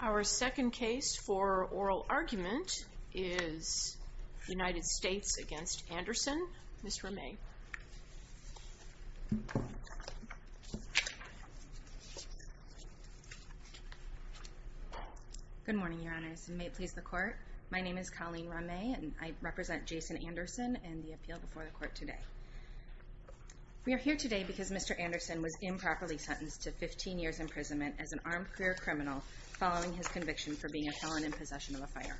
Our second case for oral argument is United States v. Anderson, Ms. Ramay. Colleen Ramay Good morning, Your Honors, and may it please the Court. My name is Colleen Ramay and I represent Jason Anderson and the appeal before the Court today. We are here today because Mr. Anderson was improperly sentenced to 15 years imprisonment as an armed career criminal following his conviction for being a felon in possession of a firearm.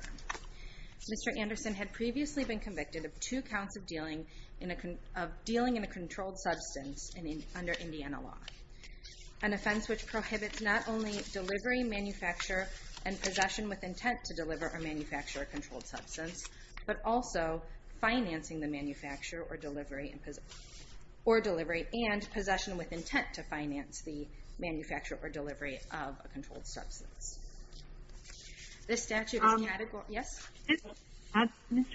Mr. Anderson had previously been convicted of two counts of dealing in a controlled substance under Indiana law, an offense which prohibits not only delivery, manufacture, and possession with intent to deliver or manufacture a controlled substance, but also financing the manufacture or delivery and possession with intent to finance the manufacture or delivery of a controlled substance. Ms. Ramay, let me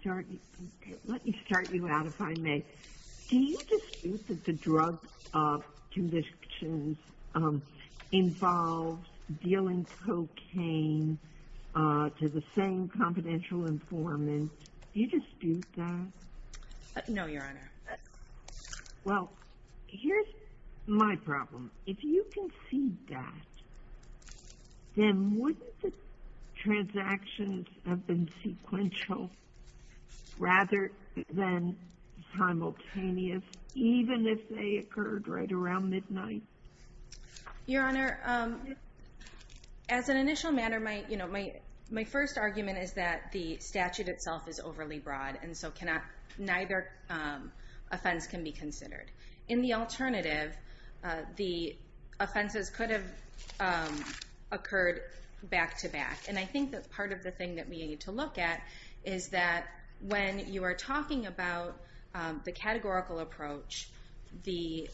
start you out, if I may. Do you dispute that the drug conviction involves dealing cocaine to the same confidential informant? Do you dispute that? Ms. Ramay No, Your Honor. Ms. Ramay Well, here's my problem. If you concede that, then wouldn't the transactions have been sequential rather than simultaneous, even if they occurred right around midnight? Ms. Ramay Your Honor, as an initial matter, my first argument is that the statute itself is overly broad, and so neither offense can be considered. In the alternative, the offenses could have occurred back to back, and I think that's part of the thing that we need to look at is that when you are talking about the categorical approach, the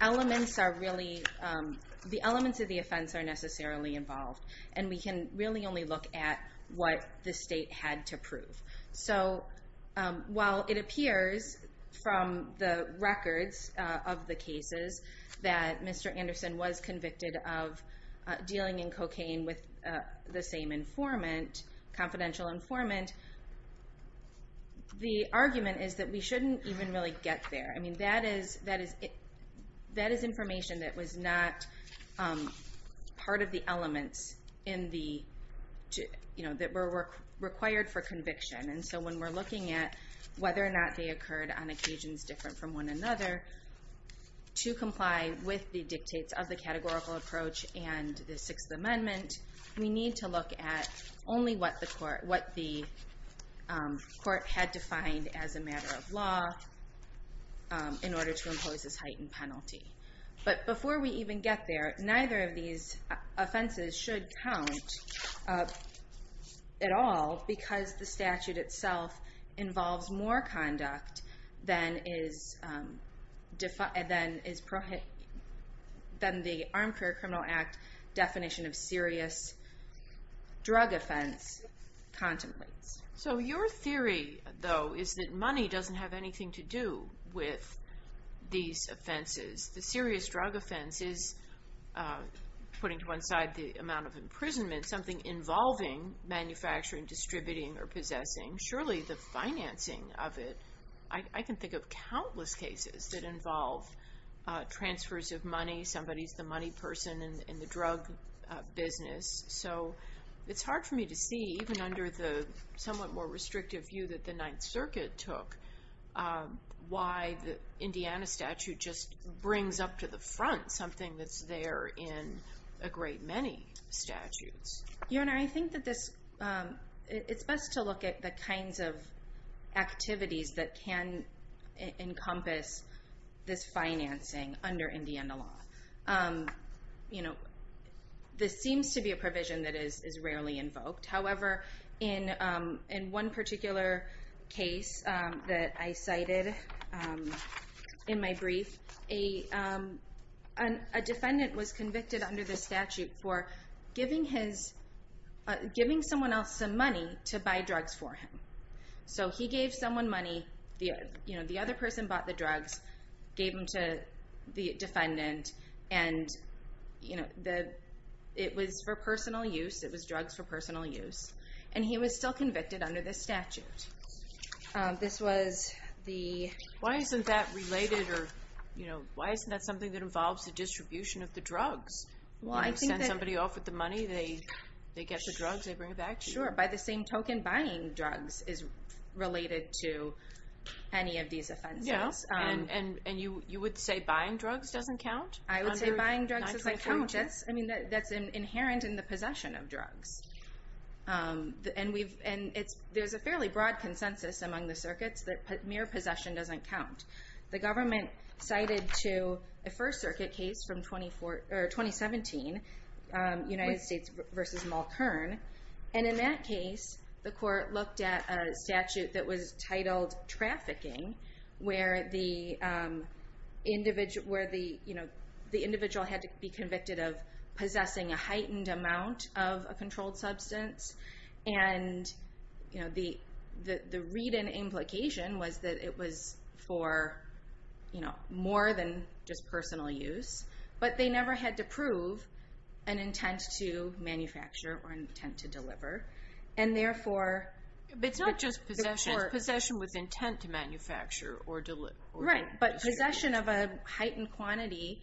elements of the offense are necessarily involved, and we can really only look at what the state had to prove. So while it appears from the records of the cases that Mr. Anderson was convicted of dealing in cocaine with the same informant, confidential informant, the argument is that we shouldn't even really get there. I mean, that is information that was not part of the elements that were required for conviction, and so when we're looking at whether or not they occurred on occasions different from one another, to comply with the dictates of the categorical approach and the Sixth Amendment, we need to look at only what the court had defined as a matter of law in order to impose this heightened penalty. But before we even get there, neither of these offenses should count at all because the statute itself involves more conduct than the Armed Career Criminal Act definition of serious drug offense contemplates. So your theory, though, is that money doesn't have anything to do with these offenses. The serious drug offense is, putting to one side the amount of imprisonment, something involving manufacturing, distributing, or possessing, surely the financing of it. I can think of countless cases that involve transfers of money. Somebody's the money person in the drug business. So it's hard for me to see, even under the somewhat more restrictive view that the Ninth Circuit took, why the Indiana statute just brings up to the front something that's there in a great many statutes. Your Honor, I think that it's best to look at the kinds of activities that can encompass this financing under Indiana law. This seems to be a provision that is rarely invoked. However, in one particular case that I cited in my brief, a defendant was convicted under this statute for giving someone else some money to buy drugs for him. So he gave someone money, the other person bought the drugs, gave them to the defendant, and it was for personal use, it was drugs for personal use. And he was still convicted under this statute. This was the... Well, I think that... You send somebody off with the money, they get the drugs, they bring it back to you. Sure. By the same token, buying drugs is related to any of these offenses. Yeah. And you would say buying drugs doesn't count? I would say buying drugs doesn't count. I mean, that's inherent in the possession of drugs. And there's a fairly broad consensus among the circuits that mere possession doesn't count. The government cited to a First Circuit case from 2017, United States v. Mulkern. And in that case, the court looked at a statute that was titled trafficking, where the individual had to be convicted of possessing a heightened amount of a controlled substance. And the read-in implication was that it was for more than just personal use, but they never had to prove an intent to manufacture or intent to deliver. And therefore... But it's not just possession. Possession was intent to manufacture or deliver. Right, but possession of a heightened quantity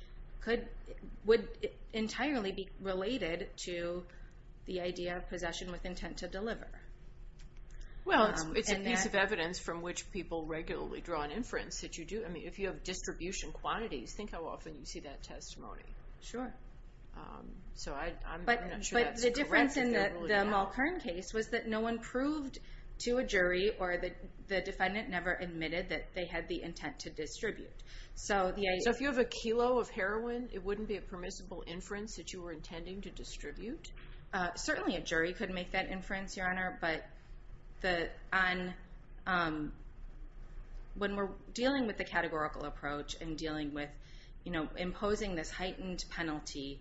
would entirely be related to the idea of possession with intent to deliver. Well, it's a piece of evidence from which people regularly draw an inference that you do. I mean, if you have distribution quantities, think how often you see that testimony. Sure. So I'm not sure that's correct. But the difference in the Mulkern case was that no one proved to a jury or the defendant never admitted that they had the intent to distribute. So if you have a kilo of heroin, it wouldn't be a permissible inference that you were intending to distribute? Certainly a jury could make that inference, Your Honor. But when we're dealing with the categorical approach and dealing with imposing this heightened penalty,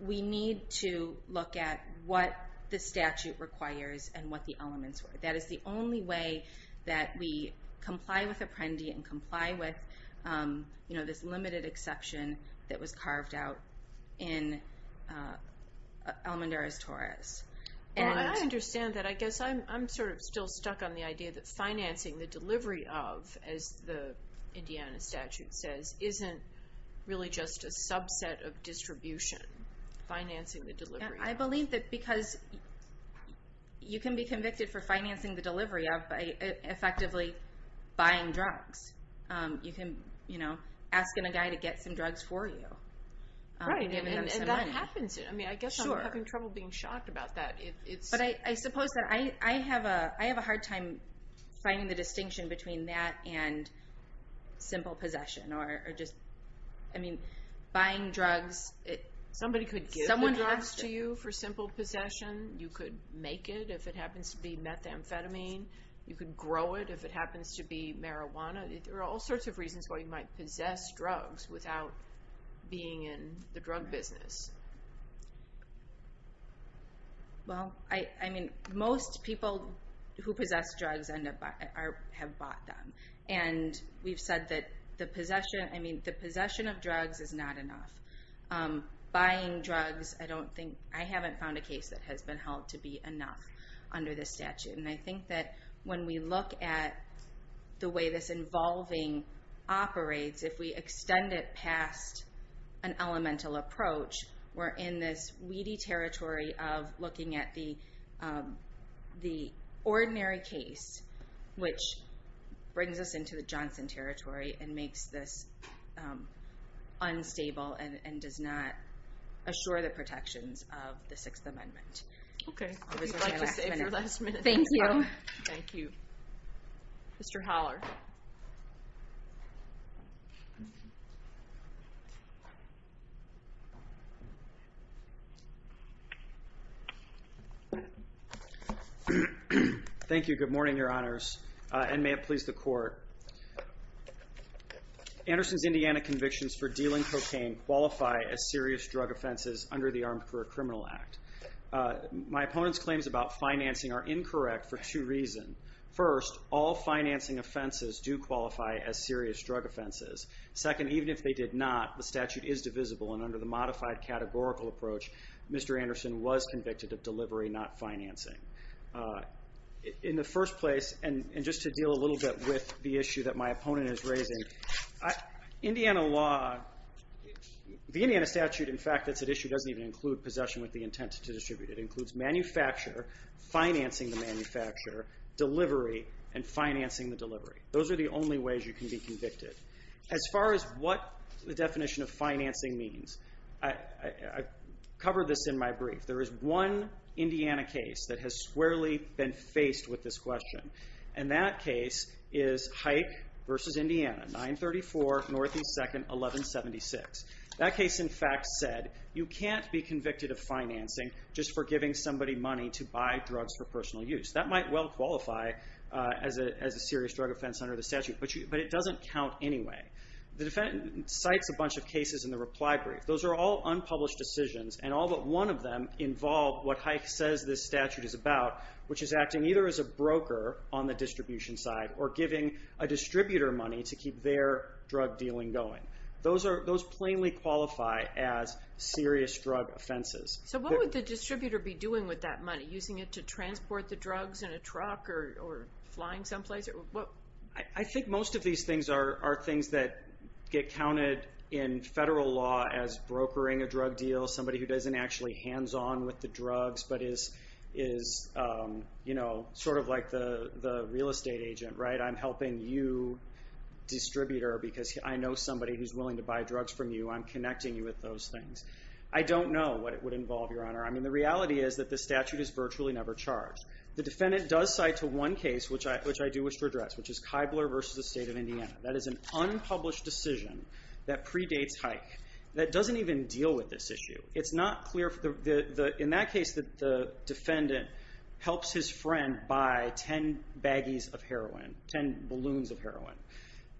we need to look at what the statute requires and what the elements are. That is the only way that we comply with Apprendi and comply with this limited exception that was carved out in Almendarez-Torres. And I understand that. I guess I'm sort of still stuck on the idea that financing the delivery of, as the Indiana statute says, isn't really just a subset of distribution. Financing the delivery of. I believe that because you can be convicted for financing the delivery of effectively buying drugs. You can, you know, ask a guy to get some drugs for you. Right, and that happens. I mean, I guess I'm having trouble being shocked about that. But I suppose that I have a hard time finding the distinction between that and simple possession or just, I mean, buying drugs. Somebody could give the drugs to you for simple possession. You could make it if it happens to be methamphetamine. You could grow it if it happens to be marijuana. There are all sorts of reasons why you might possess drugs without being in the drug business. Well, I mean, most people who possess drugs have bought them. And we've said that the possession of drugs is not enough. Buying drugs, I haven't found a case that has been held to be enough under this statute. And I think that when we look at the way this involving operates, if we extend it past an elemental approach, we're in this weedy territory of looking at the ordinary case, which brings us into the Johnson territory and makes this unstable and does not assure the protections of the Sixth Amendment. Okay. If you'd like to stay for the last minute. Thank you. Thank you. Mr. Holler. Thank you. Good morning, Your Honors, and may it please the Court. Anderson's Indiana convictions for dealing cocaine qualify as serious drug offenses under the Armed Career Criminal Act. My opponent's claims about financing are incorrect for two reasons. First, all financing offenses do qualify as serious drug offenses. Second, even if they did not, the statute is divisible, and under the modified categorical approach, Mr. Anderson was convicted of delivery, not financing. In the first place, and just to deal a little bit with the issue that my opponent is raising, Indiana law, the Indiana statute, in fact, that's at issue, doesn't even include possession with the intent to distribute it. It includes manufacture, financing the manufacture, delivery, and financing the delivery. Those are the only ways you can be convicted. As far as what the definition of financing means, I've covered this in my brief. There is one Indiana case that has squarely been faced with this question, and that case is Hike v. Indiana, 934 Northeast 2nd, 1176. That case, in fact, said you can't be convicted of financing just for giving somebody money to buy drugs for personal use. That might well qualify as a serious drug offense under the statute, but it doesn't count anyway. The defendant cites a bunch of cases in the reply brief. Those are all unpublished decisions, and all but one of them involve what Hike says this statute is about, which is acting either as a broker on the distribution side or giving a distributor money to keep their drug dealing going. Those plainly qualify as serious drug offenses. So what would the distributor be doing with that money, using it to transport the drugs in a truck or flying someplace? I think most of these things are things that get counted in federal law as brokering a drug deal, somebody who doesn't actually hands on with the drugs but is sort of like the real estate agent, right? I'm helping you, distributor, because I know somebody who's willing to buy drugs from you. I'm connecting you with those things. I don't know what it would involve, Your Honor. I mean, the reality is that the statute is virtually never charged. The defendant does cite one case, which I do wish to address, which is Kibler v. the State of Indiana. That is an unpublished decision that predates Hike that doesn't even deal with this issue. In that case, the defendant helps his friend buy ten baggies of heroin, ten balloons of heroin.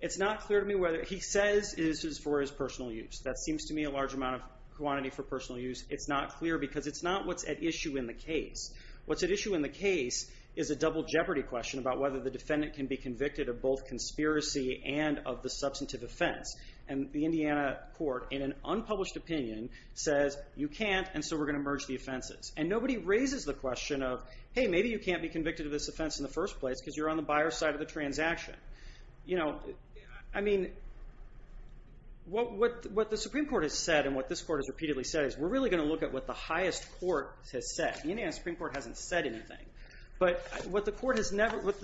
It's not clear to me whether he says this is for his personal use. That seems to me a large amount of quantity for personal use. It's not clear because it's not what's at issue in the case. What's at issue in the case is a double jeopardy question about whether the defendant can be convicted of both conspiracy and of the substantive offense. The Indiana court, in an unpublished opinion, says you can't, and so we're going to merge the offenses. Nobody raises the question of, hey, maybe you can't be convicted of this offense in the first place because you're on the buyer's side of the transaction. I mean, what the Supreme Court has said and what this court has repeatedly said is we're really going to look at what the highest court has said. The Indiana Supreme Court hasn't said anything. But what the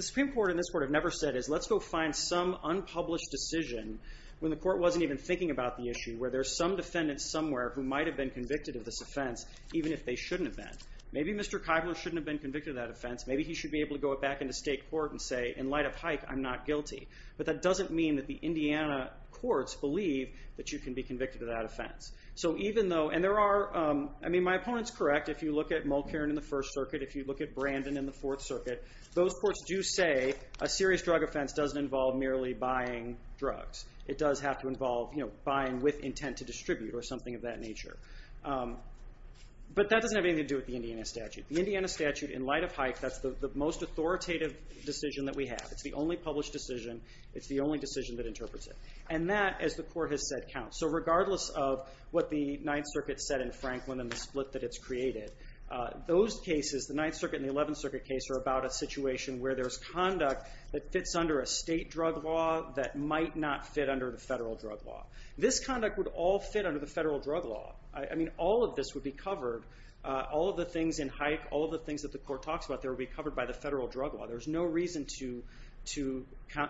Supreme Court and this court have never said is let's go find some unpublished decision when the court wasn't even thinking about the issue where there's some defendant somewhere who might have been convicted of this offense even if they shouldn't have been. Maybe Mr. Keibler shouldn't have been convicted of that offense. Maybe he should be able to go back into state court and say, in light of Hike, I'm not guilty. But that doesn't mean that the Indiana courts believe that you can be convicted of that offense. So even though, and there are, I mean, my opponent's correct. If you look at Mulkerin in the First Circuit, if you look at Brandon in the Fourth Circuit, those courts do say a serious drug offense doesn't involve merely buying drugs. It does have to involve buying with intent to distribute or something of that nature. But that doesn't have anything to do with the Indiana statute. The Indiana statute, in light of Hike, that's the most authoritative decision that we have. It's the only published decision. It's the only decision that interprets it. And that, as the court has said, counts. So regardless of what the Ninth Circuit said in Franklin and the split that it's created, those cases, the Ninth Circuit and the Eleventh Circuit case, are about a situation where there's conduct that fits under a state drug law that might not fit under the federal drug law. This conduct would all fit under the federal drug law. I mean, all of this would be covered. All of the things in Hike, all of the things that the court talks about, they would be covered by the federal drug law. There's no reason to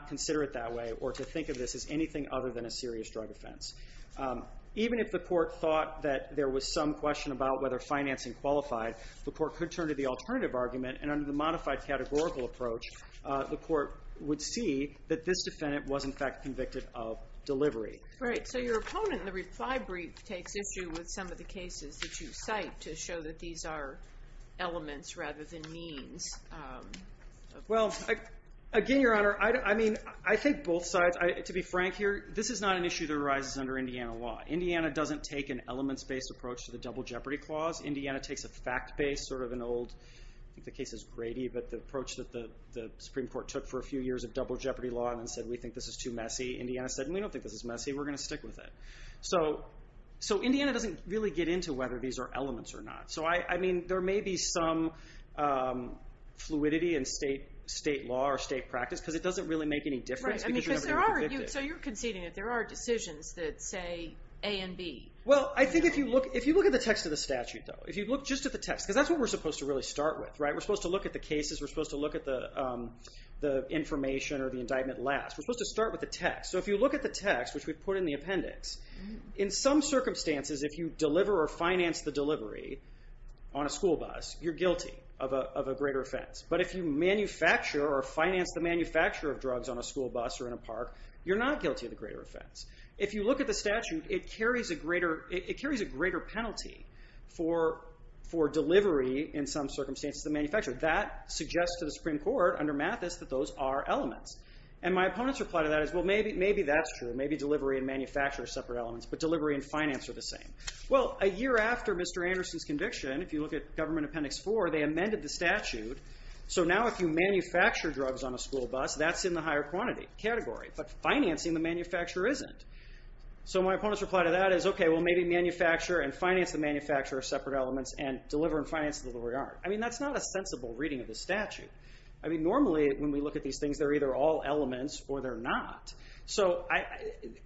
consider it that way or to think of this as anything other than a serious drug offense. Even if the court thought that there was some question about whether financing qualified, the court could turn to the alternative argument. And under the modified categorical approach, the court would see that this defendant was in fact convicted of delivery. Right. So your opponent in the reply brief takes issue with some of the cases that you cite to show that these are elements rather than means. Well, again, Your Honor, I mean, I think both sides, to be frank here, this is not an issue that arises under Indiana law. Indiana doesn't take an elements-based approach to the Double Jeopardy Clause. Indiana takes a fact-based, sort of an old, I think the case is Grady, but the approach that the Supreme Court took for a few years of double jeopardy law and said, we think this is too messy. Indiana said, we don't think this is messy. We're going to stick with it. So Indiana doesn't really get into whether these are elements or not. So I mean, there may be some fluidity in state law or state practice because it doesn't really make any difference because you're never going to convict it. Right. So you're conceding that there are decisions that say A and B. Well, I think if you look at the text of the statute, though, if you look just at the text, because that's what we're supposed to really start with. We're supposed to look at the cases. We're supposed to look at the information or the indictment last. We're supposed to start with the text. So if you look at the text, which we put in the appendix, in some circumstances, if you deliver or finance the delivery on a school bus, you're guilty of a greater offense. But if you manufacture or finance the manufacture of drugs on a school bus or in a park, you're not guilty of the greater offense. If you look at the statute, it carries a greater penalty for delivery in some circumstances, the manufacturer. That suggests to the Supreme Court, under Mathis, that those are elements. And my opponent's reply to that is, well, maybe that's true. Maybe delivery and manufacture are separate elements, but delivery and finance are the same. Well, a year after Mr. Anderson's conviction, if you look at Government Appendix 4, they amended the statute. So now if you manufacture drugs on a school bus, that's in the higher quantity category. But financing the manufacturer isn't. So my opponent's reply to that is, okay, well, maybe manufacture and finance the manufacturer are separate elements and deliver and finance the delivery aren't. I mean, that's not a sensible reading of the statute. I mean, normally when we look at these things, they're either all elements or they're not. So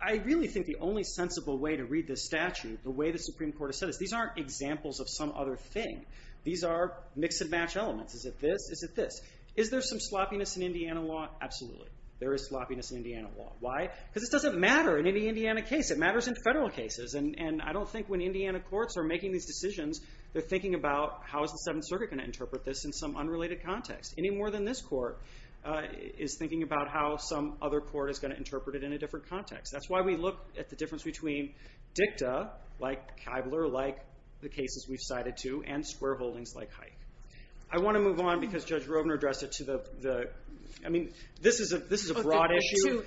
I really think the only sensible way to read this statute, the way the Supreme Court has said it, these aren't examples of some other thing. These are mix-and-match elements. Is it this? Is it this? Is there some sloppiness in Indiana law? Absolutely. There is sloppiness in Indiana law. Why? Because it doesn't matter in any Indiana case. It matters in federal cases. And I don't think when Indiana courts are making these decisions, they're thinking about how is the Seventh Circuit going to interpret this in some unrelated context? Any more than this court is thinking about how some other court is going to interpret it in a different context. That's why we look at the difference between dicta, like Kibler, like the cases we've cited to, and square holdings like Hike. I want to move on because Judge Rovner addressed it to the... I mean, this is a broad issue.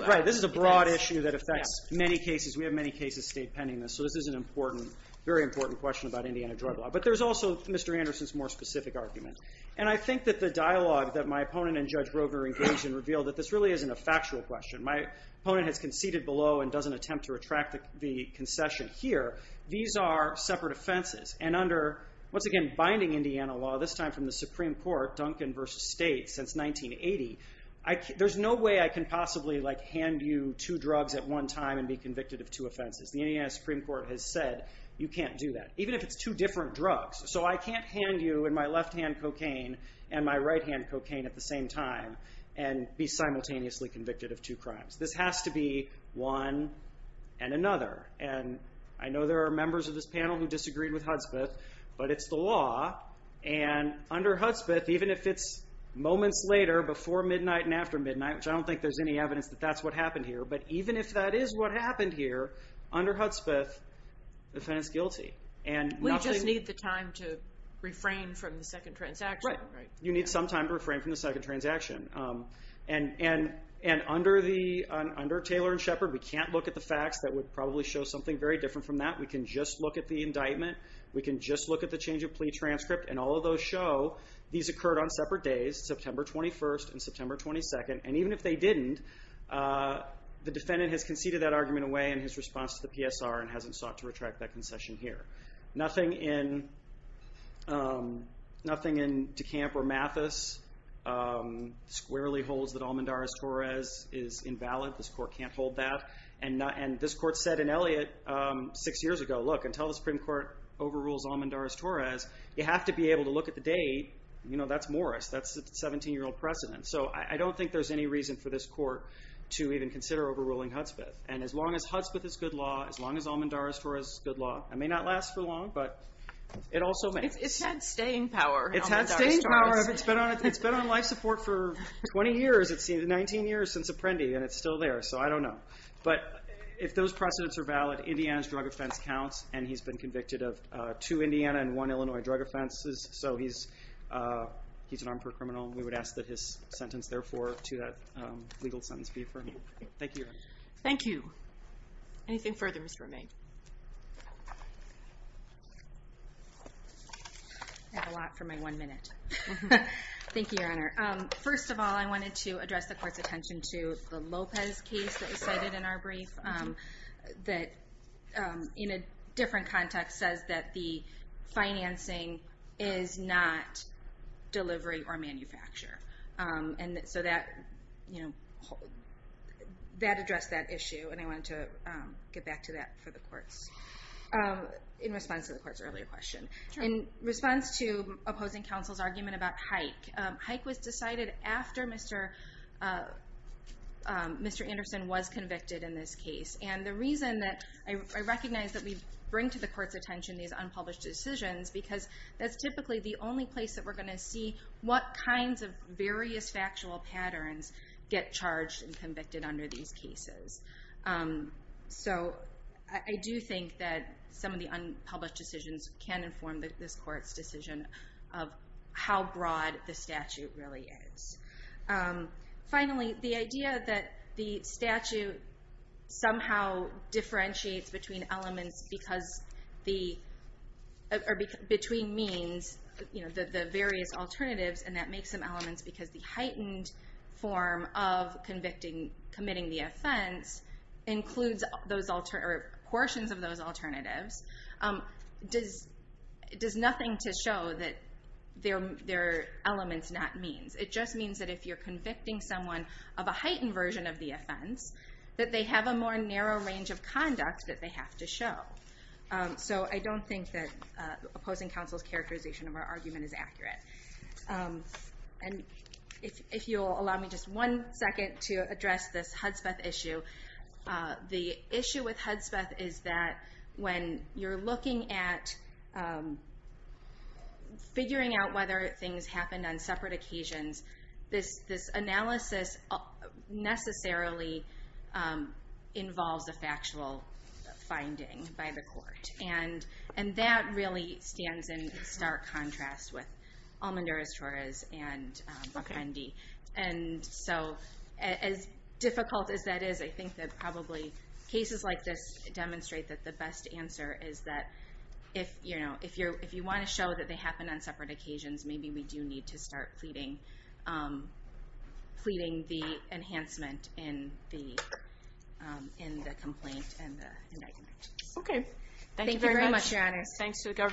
Right, this is a broad issue that affects many cases. We have many cases state pending this. So this is an important, very important question about Indiana drug law. But there's also Mr. Anderson's more specific argument. And I think that the dialogue that my opponent and Judge Rovner engaged in revealed that this really isn't a factual question. My opponent has conceded below and doesn't attempt to retract the concession here. These are separate offenses. And under, once again, binding Indiana law, this time from the Supreme Court, Duncan v. State, since 1980, there's no way I can possibly hand you two drugs at one time and be convicted of two offenses. The Indiana Supreme Court has said you can't do that. Even if it's two different drugs. So I can't hand you in my left-hand cocaine and my right-hand cocaine at the same time and be simultaneously convicted of two crimes. This has to be one and another. And I know there are members of this panel who disagreed with Hudspeth, but it's the law. And under Hudspeth, even if it's moments later, before midnight and after midnight, which I don't think there's any evidence that that's what happened here, but even if that is what happened here, under Hudspeth, the defendant's guilty. We just need the time to refrain from the second transaction. Right. You need some time to refrain from the second transaction. And under Taylor and Shepard, we can't look at the facts that would probably show something very different from that. We can just look at the indictment. We can just look at the change of plea transcript. And all of those show these occurred on separate days, September 21st and September 22nd. And even if they didn't, the defendant has conceded that argument away in his response to the PSR and hasn't sought to retract that concession here. Nothing in DeCamp or Mathis squarely holds that Almendarez-Torres is invalid. This court can't hold that. And this court said in Elliott six years ago, look, until the Supreme Court overrules Almendarez-Torres, you have to be able to look at the date. That's Morris. That's the 17-year-old precedent. So I don't think there's any reason for this court to even consider overruling Hudspeth. And as long as Hudspeth is good law, as long as Almendarez-Torres is good law, it may not last for long, but it also may. It's had staying power. It's had staying power. It's been on life support for 20 years. It's been 19 years since Apprendi, and it's still there. So I don't know. But if those precedents are valid, Indiana's drug offense counts, and he's been convicted of two Indiana and one Illinois drug offenses. So he's an armed per criminal. We would ask that his sentence, therefore, to that legal sentence be affirmed. Thank you. Thank you. Anything further, Ms. Romijn? I have a lot for my one minute. Thank you, Your Honor. First of all, I wanted to address the court's attention to the Lopez case that was cited in our brief that in a different context says that the financing is not delivery or manufacture. And so that addressed that issue, and I wanted to get back to that for the courts in response to the court's earlier question. In response to opposing counsel's argument about Hike, Hike was decided after Mr. Anderson was convicted in this case. And the reason that I recognize that we bring to the court's attention these unpublished decisions because that's typically the only place that we're going to see what kinds of various factual patterns get charged and convicted under these cases. So I do think that some of the unpublished decisions can inform this court's decision of how broad the statute really is. Finally, the idea that the statute somehow differentiates between elements because the, or between means, the various alternatives, and that makes them elements because the heightened form of committing the offense includes portions of those alternatives does nothing to show that they're elements, not means. It just means that if you're convicting someone of a heightened version of the offense that they have a more narrow range of conduct that they have to show. of our argument is accurate. And if you'll allow me just one second to address this Hudspeth issue. The issue with Hudspeth is that when you're looking at figuring out whether things happened on separate occasions, this analysis necessarily involves a factual finding by the court. And that really stands in stark contrast with Almenduras-Torres and Buffendi. And so as difficult as that is, I think that probably cases like this demonstrate that the best answer is that if you want to show that they happened on separate occasions, maybe we do need to start pleading the enhancement in the complaint and the indictment. Okay. Thank you very much, Your Honor. Thanks to the government.